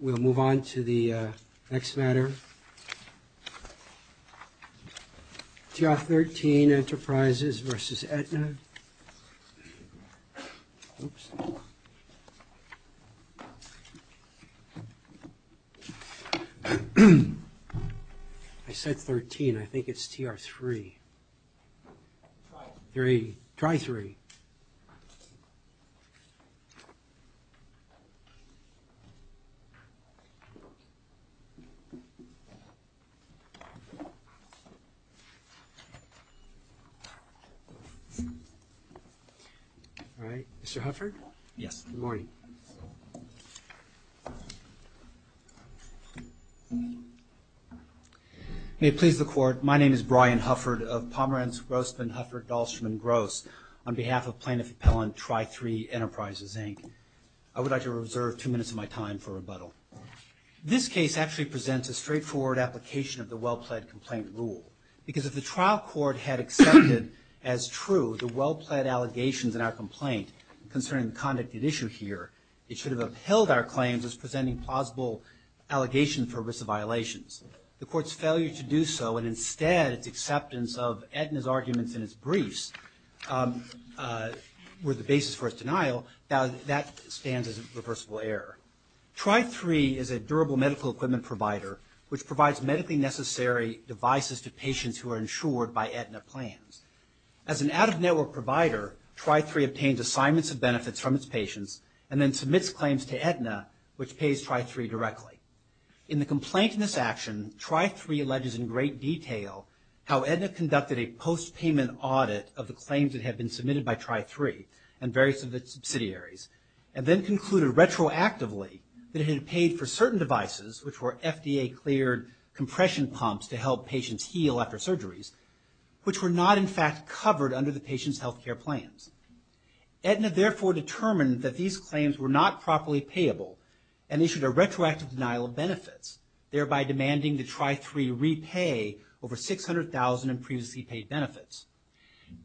We'll move on to the next matter. TR13 Enterprises v. Aetna. I said 13. I think it's TR3. Try 3. All right. Mr. Hufford? Yes. Good morning. May it please the Court, my name is Brian Hufford of Pomerantz Grossman Hufford Dahlstrom & Gross. On behalf of Plaintiff Appellant TRI3 Enterprises, Inc., I would like to reserve two minutes of my time for rebuttal. This case actually presents a straightforward application of the well-pled complaint rule. Because if the trial court had accepted as true the well-pled allegations in our complaint concerning the conduct at issue here, it should have upheld our claims as presenting plausible allegations for risk of violations. The court's failure to do so and instead its acceptance of Aetna's arguments in its briefs were the basis for its denial, that stands as a reversible error. TRI3 is a durable medical equipment provider which provides medically necessary devices to patients who are insured by Aetna plans. As an out-of-network provider, TRI3 obtains assignments of benefits from its patients and then submits claims to Aetna, which pays TRI3 directly. In the complaint in this action, TRI3 alleges in great detail how Aetna conducted a post-payment audit of the claims that had been submitted by TRI3 and various of its subsidiaries and then concluded retroactively that it had paid for certain devices, which were FDA-cleared compression pumps to help patients heal after surgeries, which were not in fact covered under the patient's health care plans. Aetna therefore determined that these claims were not properly payable and issued a retroactive denial of benefits, thereby demanding that TRI3 repay over $600,000 in previously paid benefits.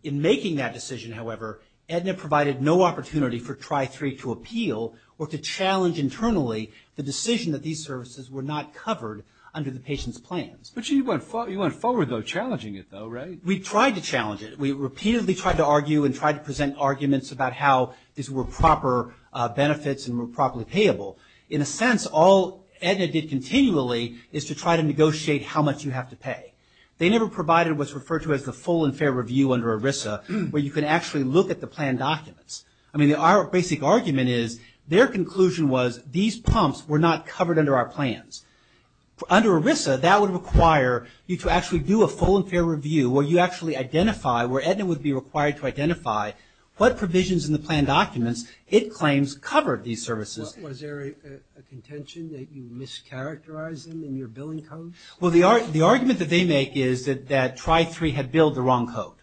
In making that decision, however, Aetna provided no opportunity for TRI3 to appeal or to challenge internally the decision that these services were not covered under the patient's plans. But you went forward though, challenging it though, right? We tried to challenge it. We repeatedly tried to argue and tried to present arguments about how these were proper benefits and were properly payable. In a sense, all Aetna did continually is to try to negotiate how much you have to pay. They never provided what's referred to as the full and fair review under ERISA, where you can actually look at the plan documents. I mean, our basic argument is their conclusion was these pumps were not covered under our plans. Under ERISA, that would require you to actually do a full and fair review where you actually identify, where Aetna would be required to identify, what provisions in the plan documents it claims covered these services. Was there a contention that you mischaracterized them in your billing code? Well, the argument that they make is that TRI3 had billed the wrong code.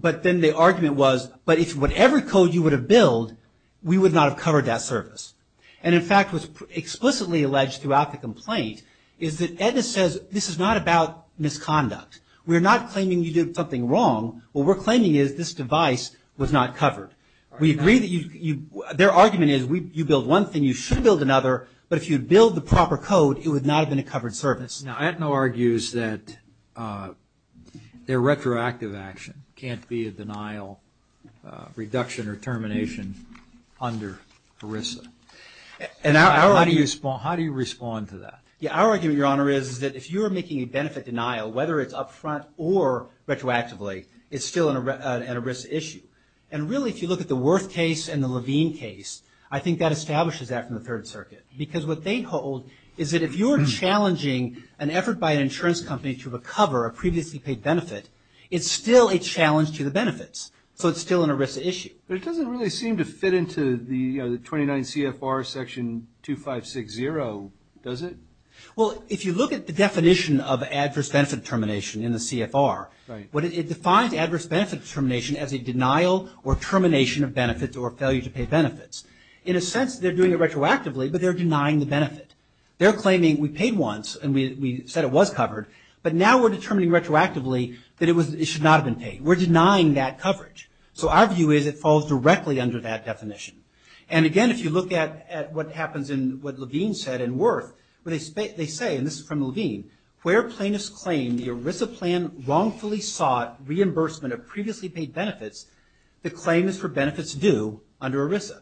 But then the argument was, but if whatever code you would have billed, we would not have covered that service. And, in fact, what's explicitly alleged throughout the complaint is that Aetna says this is not about misconduct. We're not claiming you did something wrong. What we're claiming is this device was not covered. We agree that you, their argument is you billed one thing, you should bill another, but if you had billed the proper code, it would not have been a covered service. Now, Aetna argues that their retroactive action can't be a denial, reduction, or termination under ERISA. And how do you respond to that? Our argument, Your Honor, is that if you're making a benefit denial, whether it's up front or retroactively, it's still an ERISA issue. And, really, if you look at the Worth case and the Levine case, I think that establishes that from the Third Circuit. Because what they hold is that if you're challenging an effort by an insurance company to recover a previously paid benefit, it's still a challenge to the benefits. So it's still an ERISA issue. But it doesn't really seem to fit into the 29 CFR section 2560, does it? Well, if you look at the definition of adverse benefit determination in the CFR, it defines adverse benefit determination as a denial or termination of benefits or failure to pay benefits. In a sense, they're doing it retroactively, but they're denying the benefit. They're claiming we paid once and we said it was covered, but now we're determining retroactively that it should not have been paid. We're denying that coverage. So our view is it falls directly under that definition. And, again, if you look at what happens in what Levine said in Worth, where they say, and this is from Levine, where plaintiffs claim the ERISA plan wrongfully sought reimbursement of previously paid benefits, the claim is for benefits due under ERISA.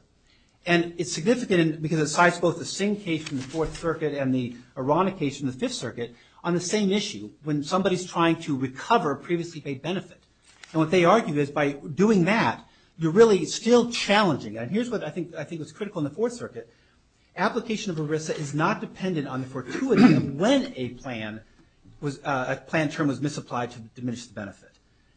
And it's significant because it cites both the Singh case from the Fourth Circuit and the Arana case from the Fifth Circuit on the same issue, when somebody's trying to recover a previously paid benefit. And what they argue is by doing that, you're really still challenging. And here's what I think was critical in the Fourth Circuit. Application of ERISA is not dependent on the fortuity of when a plan term was misapplied to diminish the benefit.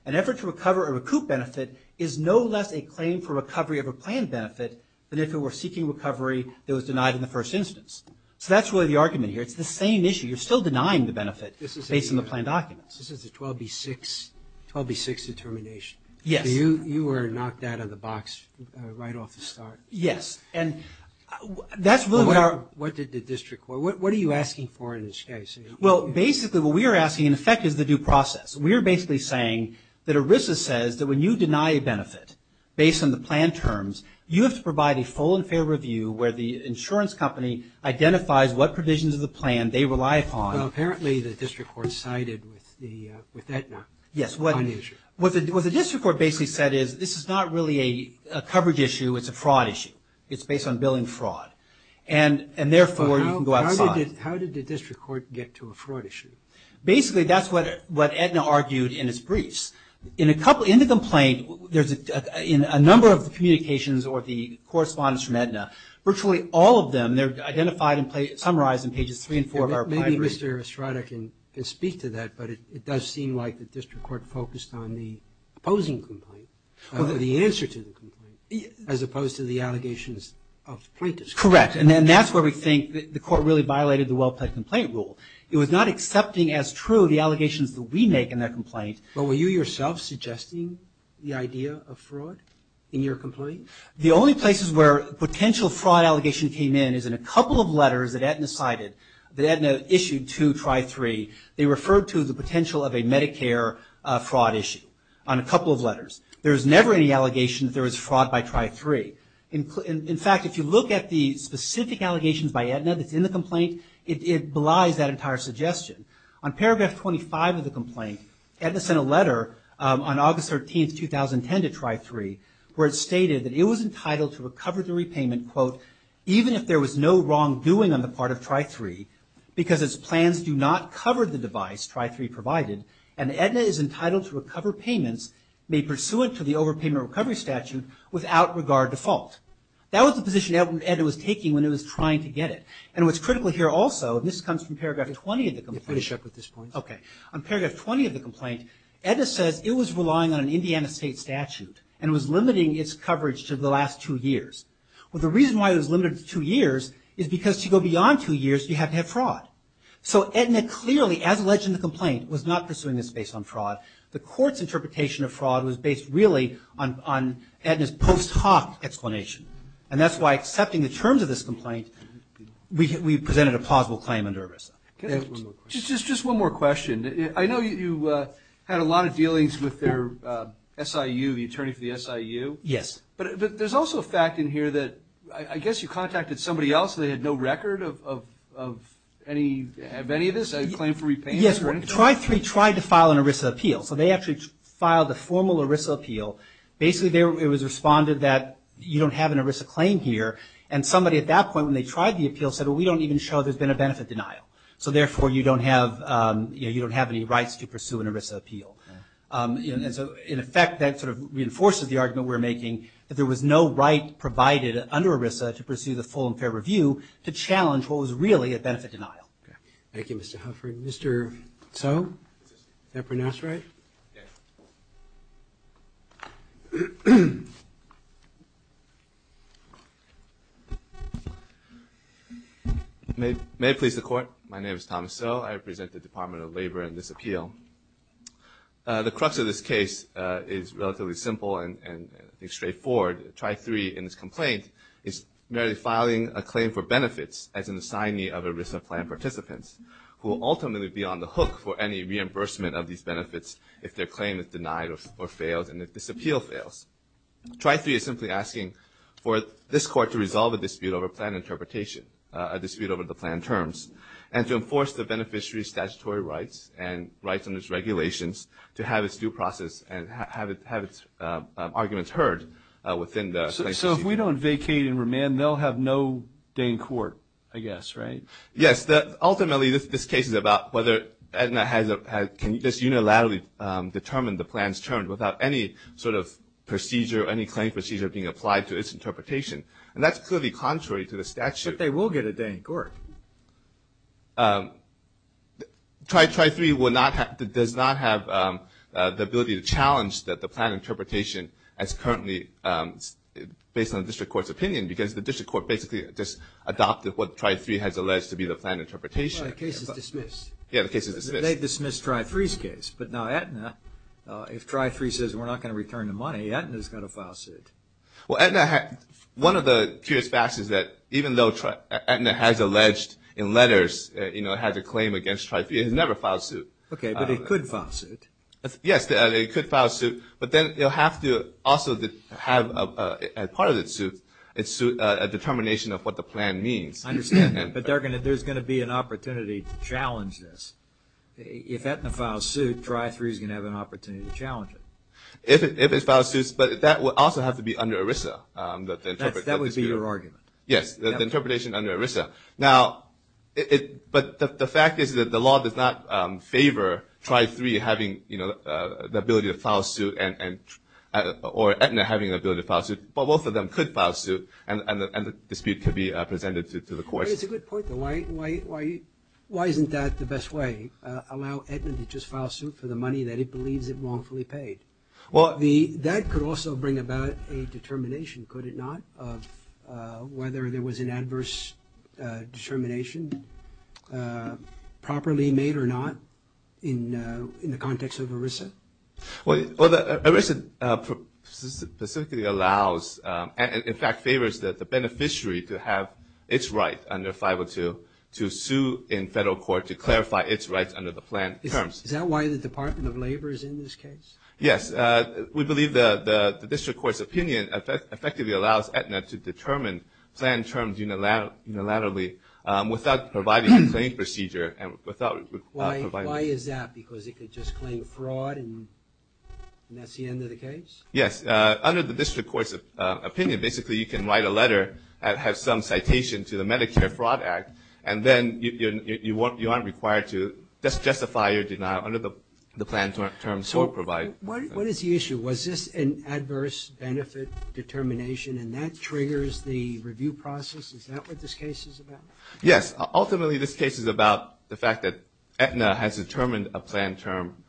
An effort to recover or recoup benefit is no less a claim for recovery of a planned benefit than if it were seeking recovery that was denied in the first instance. So that's really the argument here. It's the same issue. You're still denying the benefit based on the plan documents. This is a 12B6 determination. Yes. You were knocked out of the box right off the start. Yes. What did the district court, what are you asking for in this case? Well, basically what we are asking, in effect, is the due process. We are basically saying that ERISA says that when you deny a benefit based on the plan terms, you have to provide a full and fair review where the insurance company identifies what provisions of the plan they rely upon. Well, apparently the district court sided with Aetna. Yes. What the district court basically said is this is not really a coverage issue. It's a fraud issue. It's based on billing fraud. And therefore, you can go outside. How did the district court get to a fraud issue? Basically, that's what Aetna argued in its briefs. In the complaint, there's a number of communications or the correspondence from Aetna. Virtually all of them, they're identified and summarized in pages three and four. Maybe Mr. Estrada can speak to that, but it does seem like the district court focused on the opposing complaint, the answer to the complaint, as opposed to the allegations of the plaintiffs. Correct. And then that's where we think the court really violated the well-planned complaint rule. It was not accepting as true the allegations that we make in that complaint. But were you yourself suggesting the idea of fraud in your complaint? The only places where a potential fraud allegation came in is in a couple of letters that Aetna cited. That Aetna issued to Tri-3, they referred to the potential of a Medicare fraud issue on a couple of letters. There was never any allegation that there was fraud by Tri-3. In fact, if you look at the specific allegations by Aetna that's in the complaint, it belies that entire suggestion. On paragraph 25 of the complaint, Aetna sent a letter on August 13, 2010, to Tri-3, where it stated that it was entitled to recover the repayment, quote, even if there was no wrongdoing on the part of Tri-3, because its plans do not cover the device Tri-3 provided, and Aetna is entitled to recover payments made pursuant to the overpayment recovery statute without regard to fault. That was the position Aetna was taking when it was trying to get it. And what's critical here also, and this comes from paragraph 20 of the complaint. Let me finish up with this point. Okay. On paragraph 20 of the complaint, Aetna says it was relying on an Indiana state statute and was limiting its coverage to the last two years. Well, the reason why it was limited to two years is because to go beyond two years, you have to have fraud. So Aetna clearly, as alleged in the complaint, was not pursuing this based on fraud. The court's interpretation of fraud was based really on Aetna's post hoc explanation, and that's why accepting the terms of this complaint, we presented a plausible claim under ERISA. Just one more question. I know you had a lot of dealings with their SIU, the attorney for the SIU. Yes. But there's also a fact in here that I guess you contacted somebody else, and they had no record of any of this, a claim for repayment? Yes, Tri-3 tried to file an ERISA appeal. So they actually filed a formal ERISA appeal. Basically, it was responded that you don't have an ERISA claim here, and somebody at that point when they tried the appeal said, well, we don't even show there's been a benefit denial. So therefore, you don't have any rights to pursue an ERISA appeal. And so in effect, that sort of reinforces the argument we're making that there was no right provided under ERISA to pursue the full and fair review to challenge what was really a benefit denial. Okay. Thank you, Mr. Hufford. Mr. Tso, is that pronounced right? Yes. May it please the Court. My name is Thomas Tso. I represent the Department of Labor in this appeal. The crux of this case is relatively simple and straightforward. Tri-3 in this complaint is merely filing a claim for benefits as an assignee of ERISA plan participants who will ultimately be on the hook for any reimbursement of these benefits if their claim is denied or fails and if this appeal fails. Tri-3 is simply asking for this Court to resolve a dispute over plan interpretation, a dispute over the plan terms, and to enforce the beneficiary's statutory rights and rights under its regulations to have its due process and have its arguments heard within the plan. So if we don't vacate and remand, they'll have no day in court, I guess, right? Yes. Ultimately, this case is about whether Edna can just unilaterally determine the plan's terms without any sort of procedure, any claim procedure being applied to its interpretation. And that's clearly contrary to the statute. But they will get a day in court. Tri-3 does not have the ability to challenge the plan interpretation as currently based on the District Court's opinion because the District Court basically just adopted what Tri-3 has alleged to be the plan interpretation. Well, the case is dismissed. Yeah, the case is dismissed. They dismissed Tri-3's case. But now Edna, if Tri-3 says we're not going to return the money, Edna's got to file suit. Well, one of the curious facts is that even though Edna has alleged in letters, you know, had a claim against Tri-3, it has never filed suit. Okay, but it could file suit. Yes, it could file suit. But then it will have to also have as part of its suit a determination of what the plan means. I understand that. But there's going to be an opportunity to challenge this. If Edna files suit, Tri-3 is going to have an opportunity to challenge it. If it files suit, but that would also have to be under ERISA. That would be your argument. Yes, the interpretation under ERISA. Now, but the fact is that the law does not favor Tri-3 having, you know, the ability to file suit or Edna having the ability to file suit, but both of them could file suit and the dispute could be presented to the courts. It's a good point, though. Why isn't that the best way, allow Edna to just file suit for the money that it believes it wrongfully paid? That could also bring about a determination, could it not, of whether there was an adverse determination properly made or not in the context of ERISA? Well, ERISA specifically allows, in fact, favors the beneficiary to have its right under 502 to sue in federal court to clarify its rights under the plan terms. Is that why the Department of Labor is in this case? Yes. We believe the district court's opinion effectively allows Edna to determine plan terms unilaterally without providing a claim procedure. Why is that? Because it could just claim fraud and that's the end of the case? Yes. Under the district court's opinion, basically, you can write a letter that has some citation to the Medicare Fraud Act, and then you aren't required to justify your denial under the plan terms court provides. What is the issue? Was this an adverse benefit determination and that triggers the review process? Is that what this case is about? Yes. Ultimately, this case is about the fact that Edna has determined a plan term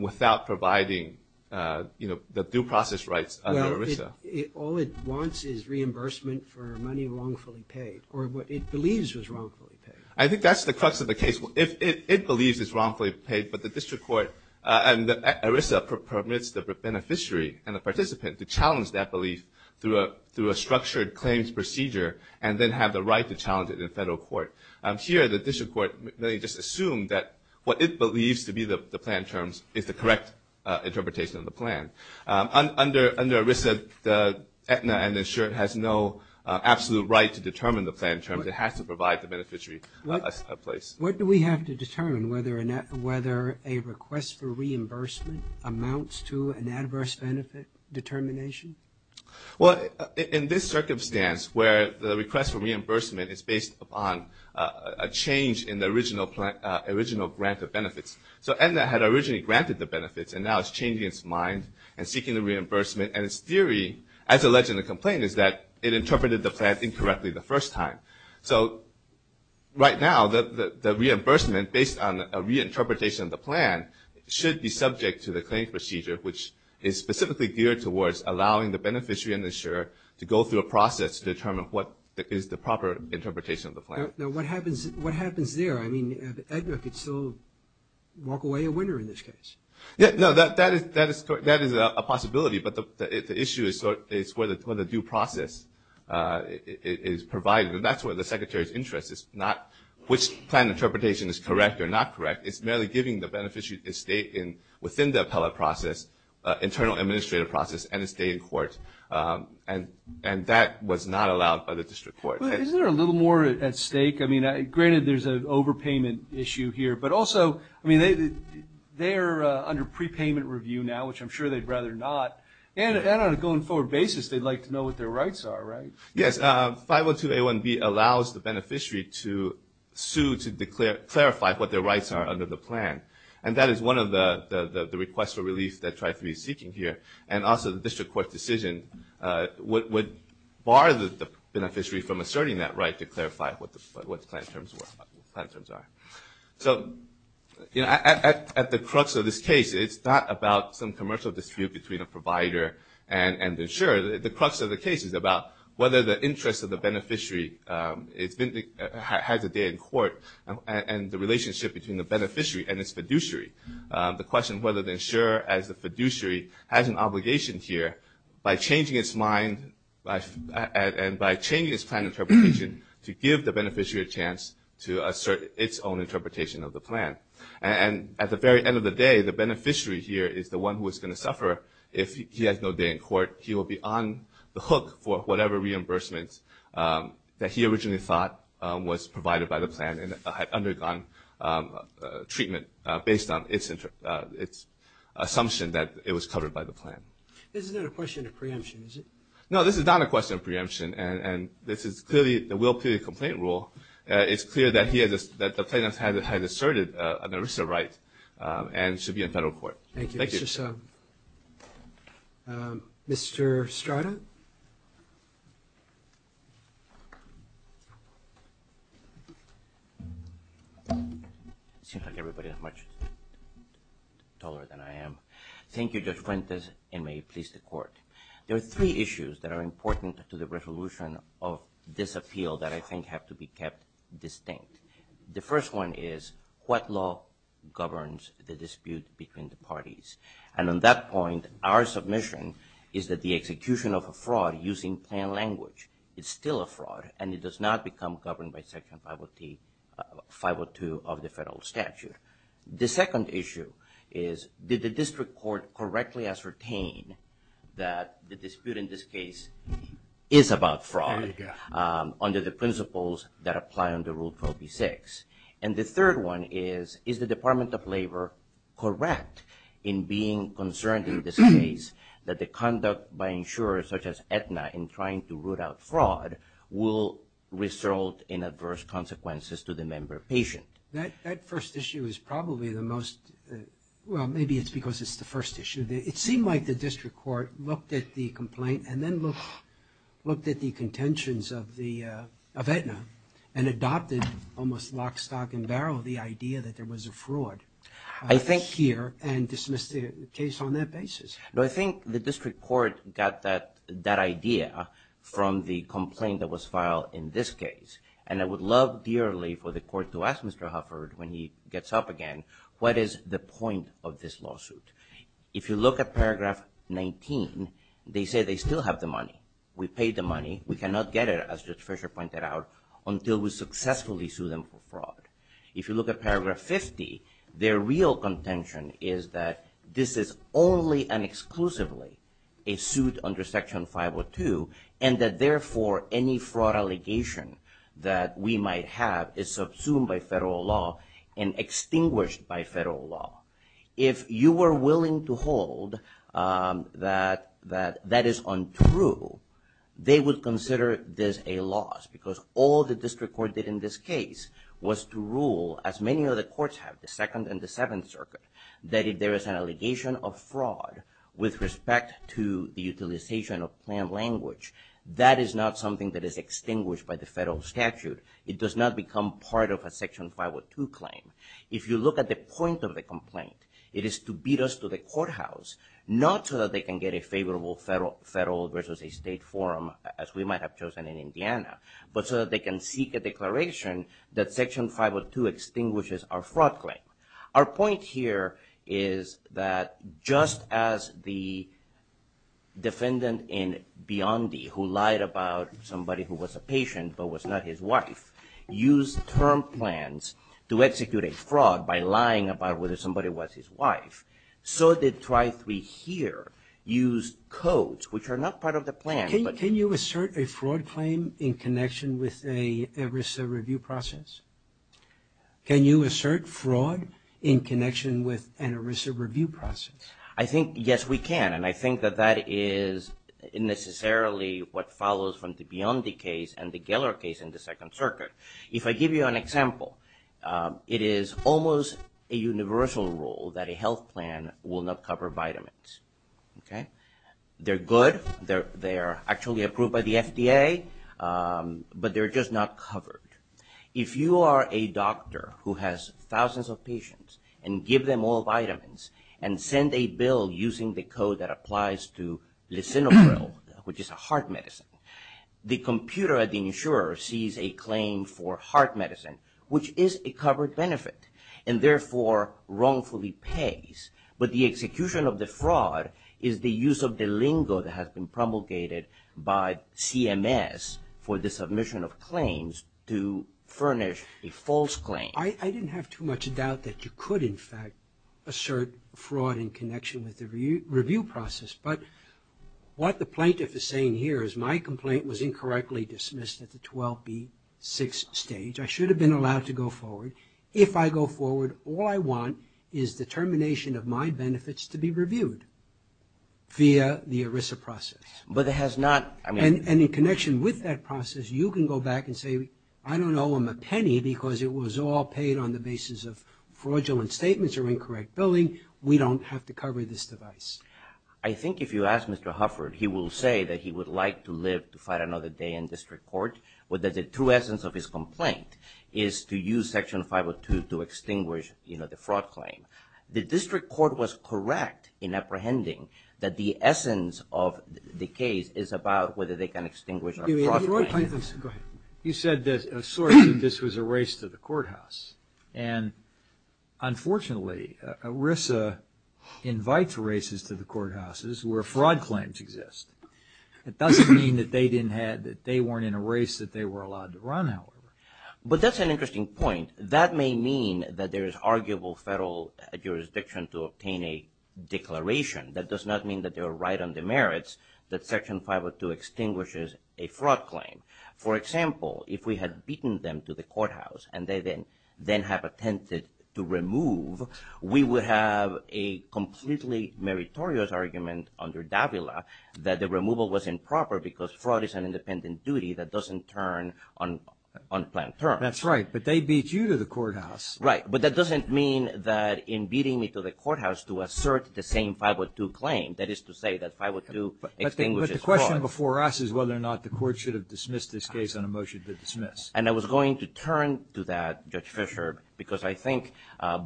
without providing the due process rights under ERISA. All it wants is reimbursement for money wrongfully paid or what it believes was wrongfully paid. I think that's the crux of the case. It believes it's wrongfully paid, but the district court and ERISA permits the beneficiary and the participant to challenge that belief through a structured claims procedure and then have the right to challenge it in federal court. Here, the district court may just assume that what it believes to be the plan terms is the correct interpretation of the plan. Under ERISA, Edna and the insurer has no absolute right to determine the plan terms. It has to provide the beneficiary a place. What do we have to determine? Whether a request for reimbursement amounts to an adverse benefit determination? Well, in this circumstance where the request for reimbursement is based upon a change in the original grant of benefits, so Edna had originally granted the benefits and now it's changing its mind and seeking the reimbursement. And its theory, as alleged in the complaint, is that it interpreted the plan incorrectly the first time. So right now, the reimbursement, based on a reinterpretation of the plan, should be subject to the claims procedure, which is specifically geared towards allowing the beneficiary and the insurer to go through a process to determine what is the proper interpretation of the plan. Now, what happens there? I mean, Edna could still walk away a winner in this case. Yeah, no, that is a possibility. But the issue is where the due process is provided. And that's where the Secretary's interest is not which plan interpretation is correct or not correct. It's merely giving the beneficiary a stay within the appellate process, internal administrative process, and a stay in court. And that was not allowed by the district court. Isn't there a little more at stake? I mean, granted there's an overpayment issue here. But also, I mean, they're under prepayment review now, which I'm sure they'd rather not. And on a going forward basis, they'd like to know what their rights are, right? Yes. 502A1B allows the beneficiary to sue to clarify what their rights are under the plan. And that is one of the requests for relief that TRIPHY is seeking here. And also the district court decision would bar the beneficiary from asserting that right to clarify what the plan terms are. So, you know, at the crux of this case, it's not about some commercial dispute between a provider and the insurer. The crux of the case is about whether the interest of the beneficiary has a day in court and the relationship between the beneficiary and its fiduciary. The question whether the insurer as the fiduciary has an obligation here by changing its mind and by changing its plan interpretation to give the beneficiary a chance to assert its own interpretation of the plan. And at the very end of the day, the beneficiary here is the one who is going to suffer if he has no day in court. He will be on the hook for whatever reimbursement that he originally thought was provided by the plan and had undergone treatment based on its assumption that it was covered by the plan. This is not a question of preemption, is it? No, this is not a question of preemption. And this is clearly the will period complaint rule. It's clear that the plaintiff has asserted an ERISA right and should be in federal court. Thank you. Mr. Strada? It seems like everybody is much taller than I am. Thank you, Judge Fuentes, and may it please the court. There are three issues that are important to the resolution of this appeal that I think have to be kept distinct. The first one is what law governs the dispute between the parties? And on that point, our submission is that the execution of a fraud using plain language is still a fraud and it does not become governed by Section 502 of the federal statute. The second issue is did the district court correctly ascertain that the dispute in this case is about fraud under the principles that apply under Rule 12b-6? And the third one is, is the Department of Labor correct in being concerned in this case that the conduct by insurers such as Aetna in trying to root out fraud will result in adverse consequences to the member patient? That first issue is probably the most, well, maybe it's because it's the first issue. It seemed like the district court looked at the complaint and then looked at the contentions of Aetna and adopted almost lock, stock, and barrel the idea that there was a fraud here and dismissed the case on that basis. I think the district court got that idea from the complaint that was filed in this case. And I would love dearly for the court to ask Mr. Hufford when he gets up again, what is the point of this lawsuit? If you look at Paragraph 19, they say they still have the money. We paid the money. We cannot get it, as Judge Fischer pointed out, until we successfully sue them for fraud. If you look at Paragraph 50, their real contention is that this is only and exclusively a suit under Section 502 and that, therefore, any fraud allegation that we might have is subsumed by federal law and extinguished by federal law. If you were willing to hold that that is untrue, they would consider this a loss because all the district court did in this case was to rule, as many other courts have, the Second and the Seventh Circuit, that if there is an allegation of fraud with respect to the utilization of plain language, that is not something that is extinguished by the federal statute. It does not become part of a Section 502 claim. If you look at the point of the complaint, it is to beat us to the courthouse, not so that they can get a favorable federal versus a state forum, as we might have chosen in Indiana, but so that they can seek a declaration that Section 502 extinguishes our fraud claim. Our point here is that just as the defendant in Biondi, who lied about somebody who was a patient but was not his wife, used term plans to execute a fraud by lying about whether somebody was his wife, so did Tri-3 here use codes, which are not part of the plan, but... Can you assert a fraud claim in connection with an ERISA review process? Can you assert fraud in connection with an ERISA review process? I think, yes, we can, and I think that that is necessarily what follows from the Biondi case and the Geller case in the Second Circuit. If I give you an example, it is almost a universal rule that a health plan will not cover vitamins. Okay? They're good, they're actually approved by the FDA, but they're just not covered. If you are a doctor who has thousands of patients and give them all vitamins and send a bill using the code that applies to lisinopril, which is a heart medicine, the computer at the insurer sees a claim for heart medicine, which is a covered benefit, and therefore wrongfully pays, but the execution of the fraud is the use of the lingo that has been promulgated by CMS for the submission of claims to furnish a false claim. I didn't have too much doubt that you could, in fact, assert fraud in connection with the review process, but what the plaintiff is saying here is my complaint was incorrectly dismissed at the 12B6 stage. I should have been allowed to go forward. If I go forward, all I want is the termination of my benefits to be reviewed via the ERISA process. But it has not... And in connection with that process, you can go back and say, I don't owe him a penny because it was all paid on the basis of fraudulent statements or incorrect billing. We don't have to cover this device. I think if you ask Mr. Hufford, he will say that he would like to live to fight another day in district court, whether the true essence of his complaint is to use Section 502 to extinguish the fraud claim. The district court was correct in apprehending that the essence of the case is about whether they can extinguish a fraud claim. You said that this was a race to the courthouse. And unfortunately, ERISA invites races to the courthouses where fraud claims exist. It doesn't mean that they weren't in a race that they were allowed to run, however. But that's an interesting point. And that may mean that there is arguable federal jurisdiction to obtain a declaration. That does not mean that they are right on the merits that Section 502 extinguishes a fraud claim. For example, if we had beaten them to the courthouse and they then have attempted to remove, we would have a completely meritorious argument under Davila that the removal was improper because fraud is an independent duty that doesn't turn on unplanned terms. That's right. But they beat you to the courthouse. Right. But that doesn't mean that in beating me to the courthouse to assert the same 502 claim, that is to say that 502 extinguishes fraud. But the question before us is whether or not the court should have dismissed this case on a motion to dismiss. And I was going to turn to that, Judge Fischer, because I think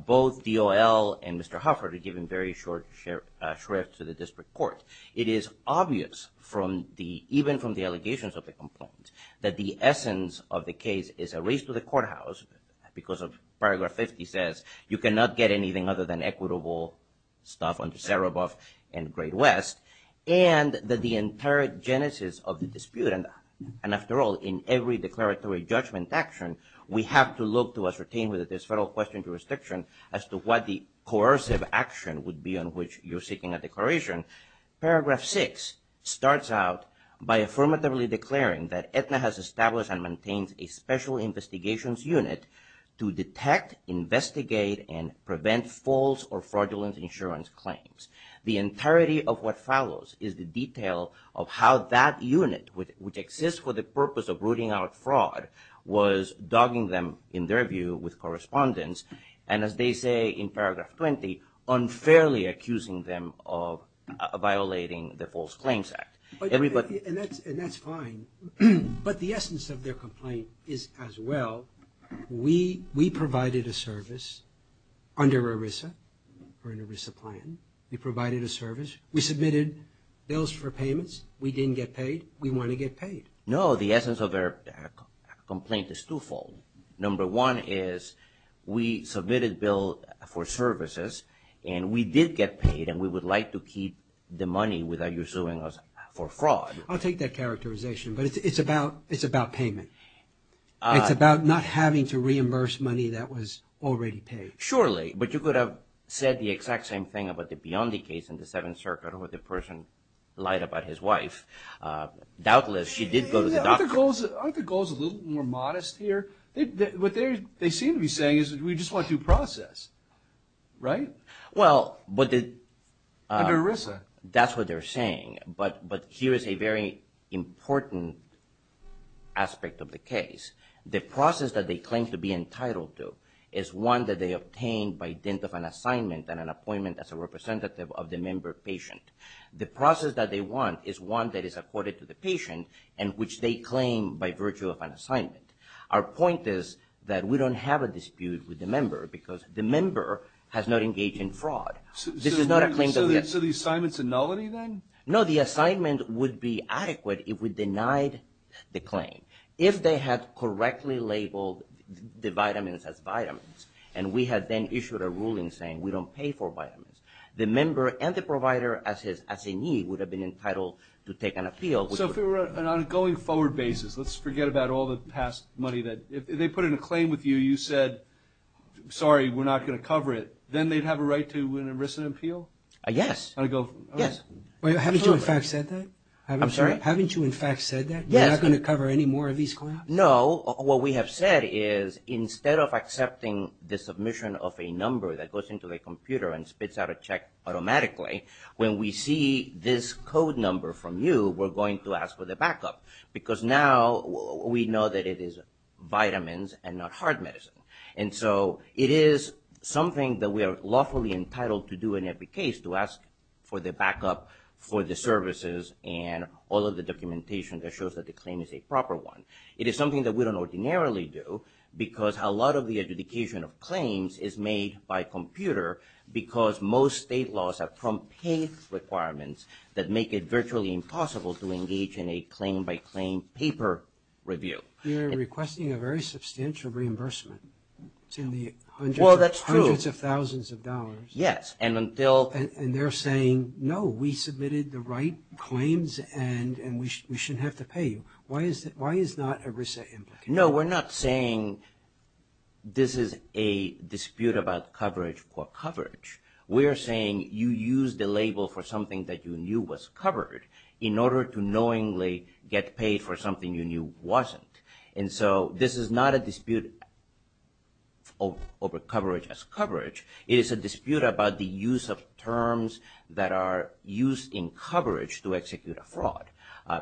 both DOL and Mr. Hufford have given very short shrift to the district court. It is obvious from the, even from the allegations of the complainant, that the essence of the case is a race to the courthouse because of Paragraph 50 says, you cannot get anything other than equitable stuff under Sereboff and Great West, and that the entire genesis of the dispute, and after all, in every declaratory judgment action, we have to look to ascertain whether there's federal question jurisdiction as to what the coercive action would be on which you're seeking a declaration. Paragraph 6 starts out by affirmatively declaring that Aetna has established and maintains a special investigations unit to detect, investigate, and prevent false or fraudulent insurance claims. The entirety of what follows is the detail of how that unit, which exists for the purpose of rooting out fraud, was dogging them, in their view, with correspondence. And as they say in Paragraph 20, unfairly accusing them of violating the False Claims Act. And that's fine, but the essence of their complaint is as well, we provided a service under ERISA for an ERISA plan. We provided a service. We submitted bills for payments. We didn't get paid. We want to get paid. No, the essence of their complaint is twofold. Number one is we submitted bill for services, and we did get paid, and we would like to keep the money without you suing us for fraud. I'll take that characterization, but it's about payment. It's about not having to reimburse money that was already paid. Surely, but you could have said the exact same thing about the Biondi case in the Seventh Circuit where the person lied about his wife. Doubtless, she did go to the doctor. Aren't the goals a little more modest here? What they seem to be saying is we just want due process, right? Under ERISA. That's what they're saying. But here is a very important aspect of the case. The process that they claim to be entitled to is one that they obtained by dint of an assignment and an appointment as a representative of the member patient. The process that they want is one that is accorded to the patient and which they claim by virtue of an assignment. Our point is that we don't have a dispute with the member because the member has not engaged in fraud. So the assignment's a nullity then? No, the assignment would be adequate if we denied the claim. If they had correctly labeled the vitamins as vitamins and we had then issued a ruling saying we don't pay for vitamins, the member and the provider as a need would have been entitled to take an appeal. So if it were an ongoing forward basis, let's forget about all the past money. If they put in a claim with you, you said, sorry, we're not going to cover it, then they'd have a right to an ERISA appeal? Yes. Haven't you, in fact, said that? I'm sorry? Haven't you, in fact, said that? Yes. You're not going to cover any more of these claims? No. What we have said is instead of accepting the submission of a number that goes into the computer and spits out a check automatically, when we see this code number from you, we're going to ask for the backup because now we know that it is vitamins and not hard medicine. And so it is something that we are lawfully entitled to do in every case, to ask for the backup for the services and all of the documentation that shows that the claim is a proper one. It is something that we don't ordinarily do because a lot of the adjudication of claims is made by computer because most state laws have prompt pay requirements that make it virtually impossible to engage in a claim-by-claim paper review. You're requesting a very substantial reimbursement. Well, that's true. It's in the hundreds of thousands of dollars. Yes. And they're saying, no, we submitted the right claims and we shouldn't have to pay you. Why is not ERISA implicated? No, we're not saying this is a dispute about coverage for coverage. We are saying you used the label for something that you knew was covered in order to knowingly get paid for something you knew wasn't. And so this is not a dispute over coverage as coverage. It is a dispute about the use of terms that are used in coverage to execute a fraud.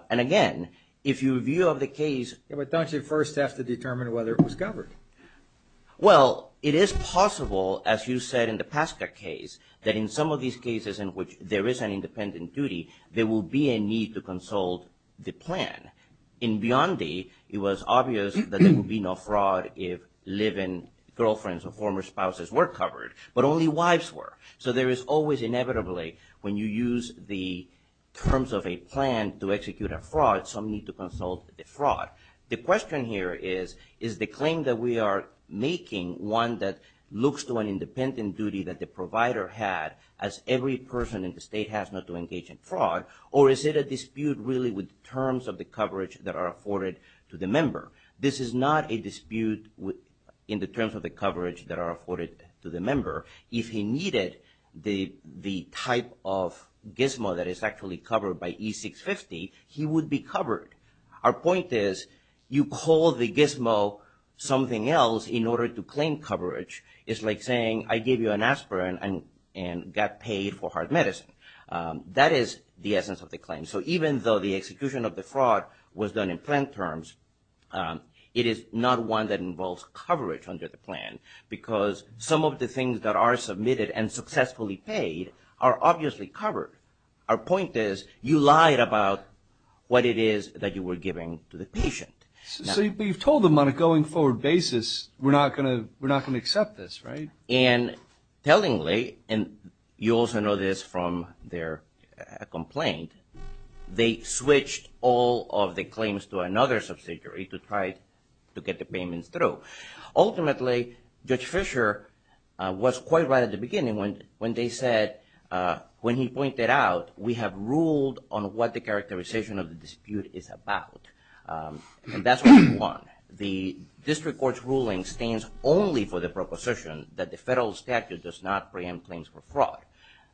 And, again, if you review the case... It has to determine whether it was covered. Well, it is possible, as you said in the Pasca case, that in some of these cases in which there is an independent duty, there will be a need to consult the plan. In Biondi, it was obvious that there would be no fraud if live-in girlfriends or former spouses were covered, but only wives were. So there is always inevitably when you use the terms of a plan to execute a fraud, some need to consult the fraud. The question here is, is the claim that we are making one that looks to an independent duty that the provider had as every person in the state has not to engage in fraud, or is it a dispute really with terms of the coverage that are afforded to the member? This is not a dispute in the terms of the coverage that are afforded to the member. If he needed the type of gizmo that is actually covered by E-650, he would be covered. Our point is, you call the gizmo something else in order to claim coverage. It's like saying, I gave you an aspirin and got paid for heart medicine. That is the essence of the claim. So even though the execution of the fraud was done in plan terms, it is not one that involves coverage under the plan, because some of the things that are submitted and successfully paid are obviously covered. Our point is, you lied about what it is that you were giving to the patient. So you've told them on a going forward basis, we're not going to accept this, right? And tellingly, and you also know this from their complaint, they switched all of the claims to another subsidiary to try to get the payments through. Ultimately, Judge Fisher was quite right at the beginning when they said, when he pointed out, we have ruled on what the characterization of the dispute is about. And that's what we want. The district court's ruling stands only for the proposition that the federal statute does not preempt claims for fraud.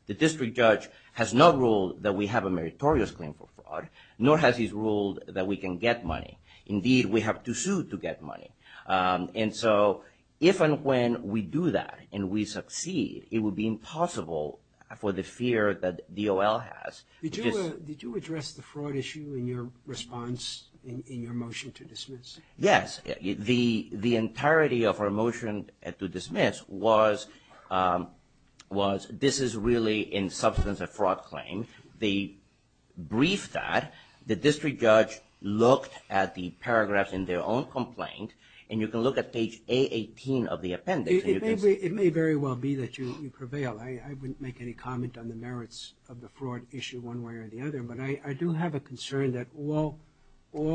The district judge has not ruled that we have a meritorious claim for fraud, nor has he ruled that we can get money. Indeed, we have to sue to get money. And so if and when we do that and we succeed, it would be impossible for the fear that DOL has. Did you address the fraud issue in your response in your motion to dismiss? Yes. The entirety of our motion to dismiss was, this is really in substance a fraud claim. They briefed that. The district judge looked at the paragraphs in their own complaint. And you can look at page A18 of the appendix. It may very well be that you prevail. I wouldn't make any comment on the merits of the fraud issue one way or the other. But I do have a concern that all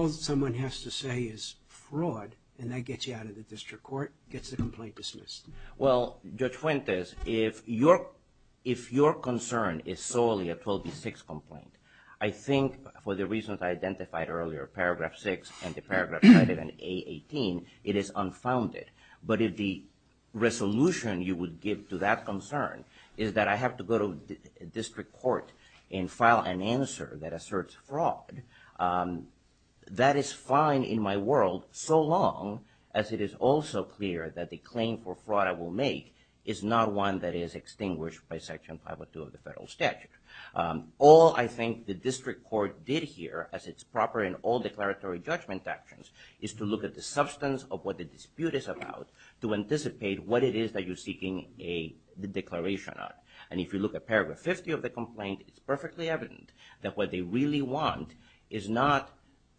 someone has to say is fraud, and that gets you out of the district court, gets the complaint dismissed. Well, Judge Fuentes, if your concern is solely a 12B6 complaint, I think for the reasons I identified earlier, paragraph 6 and the paragraph cited in A18, it is unfounded. But if the resolution you would give to that concern is that I have to go to district court and file an answer that asserts fraud, that is fine in my world, so long as it is also clear that the claim for fraud I will make is not one that is extinguished by Section 502 of the federal statute. All I think the district court did here, as it's proper in all declaratory judgment actions, is to look at the substance of what the dispute is about, to anticipate what it is that you're seeking a declaration on. And if you look at paragraph 50 of the complaint, it's perfectly evident that what they really want is not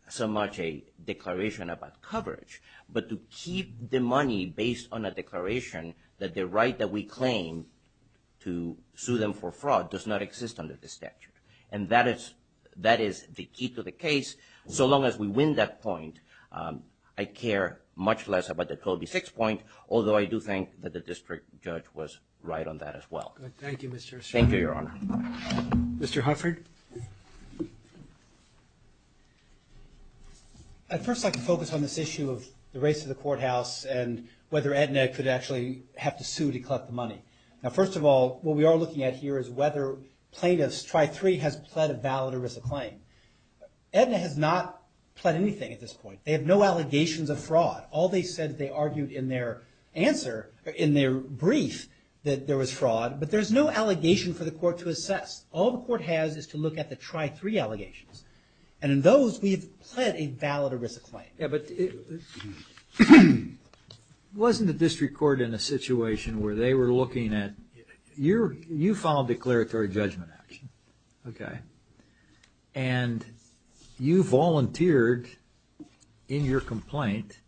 so much a declaration about coverage, but to keep the money based on a declaration that the right that we claim to sue them for fraud does not exist under the statute. And that is the key to the case. So long as we win that point, I care much less about the 12B6 point, although I do think that the district judge was right on that as well. Thank you, Mr. Assange. Thank you, Your Honor. Mr. Hufford. I'd first like to focus on this issue of the race to the courthouse and whether Aetna could actually have to sue to collect the money. Now, first of all, what we are looking at here is whether plaintiffs, try three, has pled a valid or risk a claim. Aetna has not pled anything at this point. They have no allegations of fraud. All they said is they argued in their answer, in their brief, that there was fraud. But there's no allegation for the court to assess. All the court has is to look at the try three allegations. And in those, we have pled a valid or risk a claim. Yeah, but wasn't the district court in a situation where they were looking at, you filed a declaratory judgment action, okay, and you volunteered in your complaint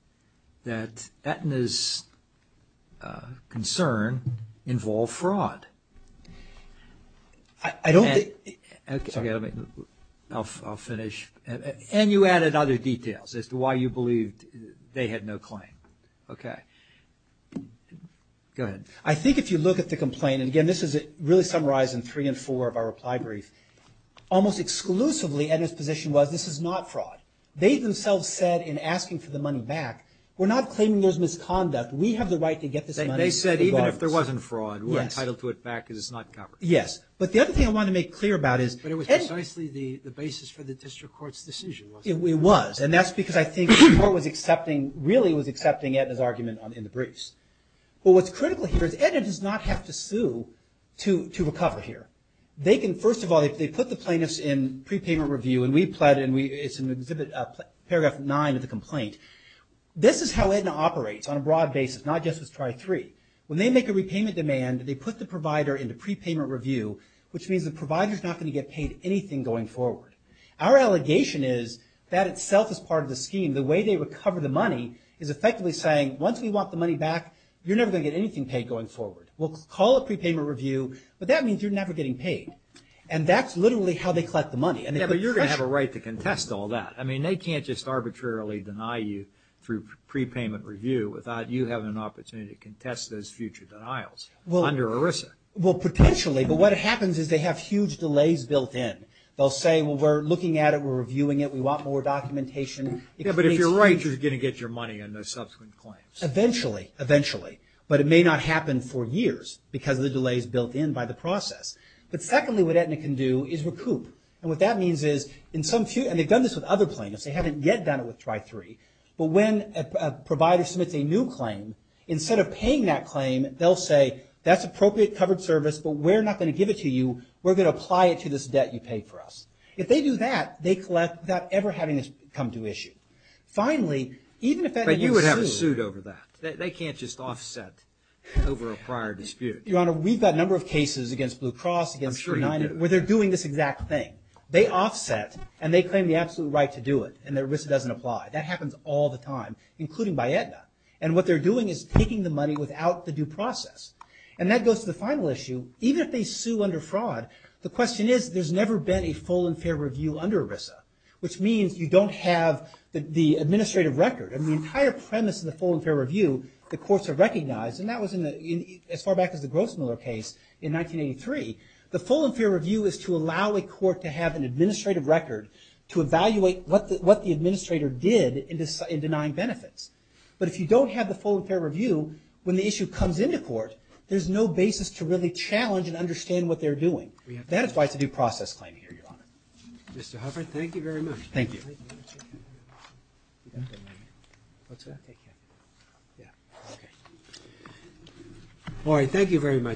that Aetna's concern involved fraud? I don't think. I'll finish. And you added other details as to why you believed they had no claim. Okay. I think if you look at the complaint, and, again, this is really summarized in three and four of our reply brief, almost exclusively Aetna's position was this is not fraud. They themselves said in asking for the money back, we're not claiming there's misconduct. We have the right to get this money. They said even if there wasn't fraud, we're entitled to it back because it's not covered. Yes, but the other thing I want to make clear about is But it was precisely the basis for the district court's decision, wasn't it? It was, and that's because I think the court was accepting, really was accepting Aetna's argument in the briefs. Well, what's critical here is Aetna does not have to sue to recover here. They can, first of all, if they put the plaintiffs in prepayment review, and we pled, and it's in exhibit paragraph nine of the complaint, this is how Aetna operates on a broad basis, not just with try three. When they make a repayment demand, they put the provider into prepayment review, which means the provider's not going to get paid anything going forward. Our allegation is that itself is part of the scheme. The way they recover the money is effectively saying once we want the money back, you're never going to get anything paid going forward. We'll call it prepayment review, but that means you're never getting paid, and that's literally how they collect the money. Yeah, but you're going to have a right to contest all that. I mean, they can't just arbitrarily deny you through prepayment review without you having an opportunity to contest those future denials under ERISA. Well, potentially, but what happens is they have huge delays built in. They'll say, well, we're looking at it, we're reviewing it, we want more documentation. Yeah, but if you're right, you're going to get your money on those subsequent claims. Eventually, eventually, but it may not happen for years because of the delays built in by the process. But secondly, what Aetna can do is recoup. And what that means is, and they've done this with other plaintiffs. They haven't yet done it with Tri-3. But when a provider submits a new claim, instead of paying that claim, they'll say that's appropriate covered service, but we're not going to give it to you. We're going to apply it to this debt you paid for us. If they do that, they collect without ever having this come to issue. But you would have a suit over that. They can't just offset over a prior dispute. Your Honor, we've got a number of cases against Blue Cross, against United, where they're doing this exact thing. They offset, and they claim the absolute right to do it, and ERISA doesn't apply. That happens all the time, including by Aetna. And what they're doing is taking the money without the due process. And that goes to the final issue. Even if they sue under fraud, the question is, there's never been a full and fair review under ERISA, which means you don't have the administrative record. I mean, the entire premise of the full and fair review, the courts have recognized, and that was as far back as the Grossmiller case in 1983. The full and fair review is to allow a court to have an administrative record to evaluate what the administrator did in denying benefits. But if you don't have the full and fair review, when the issue comes into court, there's no basis to really challenge and understand what they're doing. That is why it's a due process claim here, Your Honor. Mr. Hufford, thank you very much. Thank you. All right, thank you very much.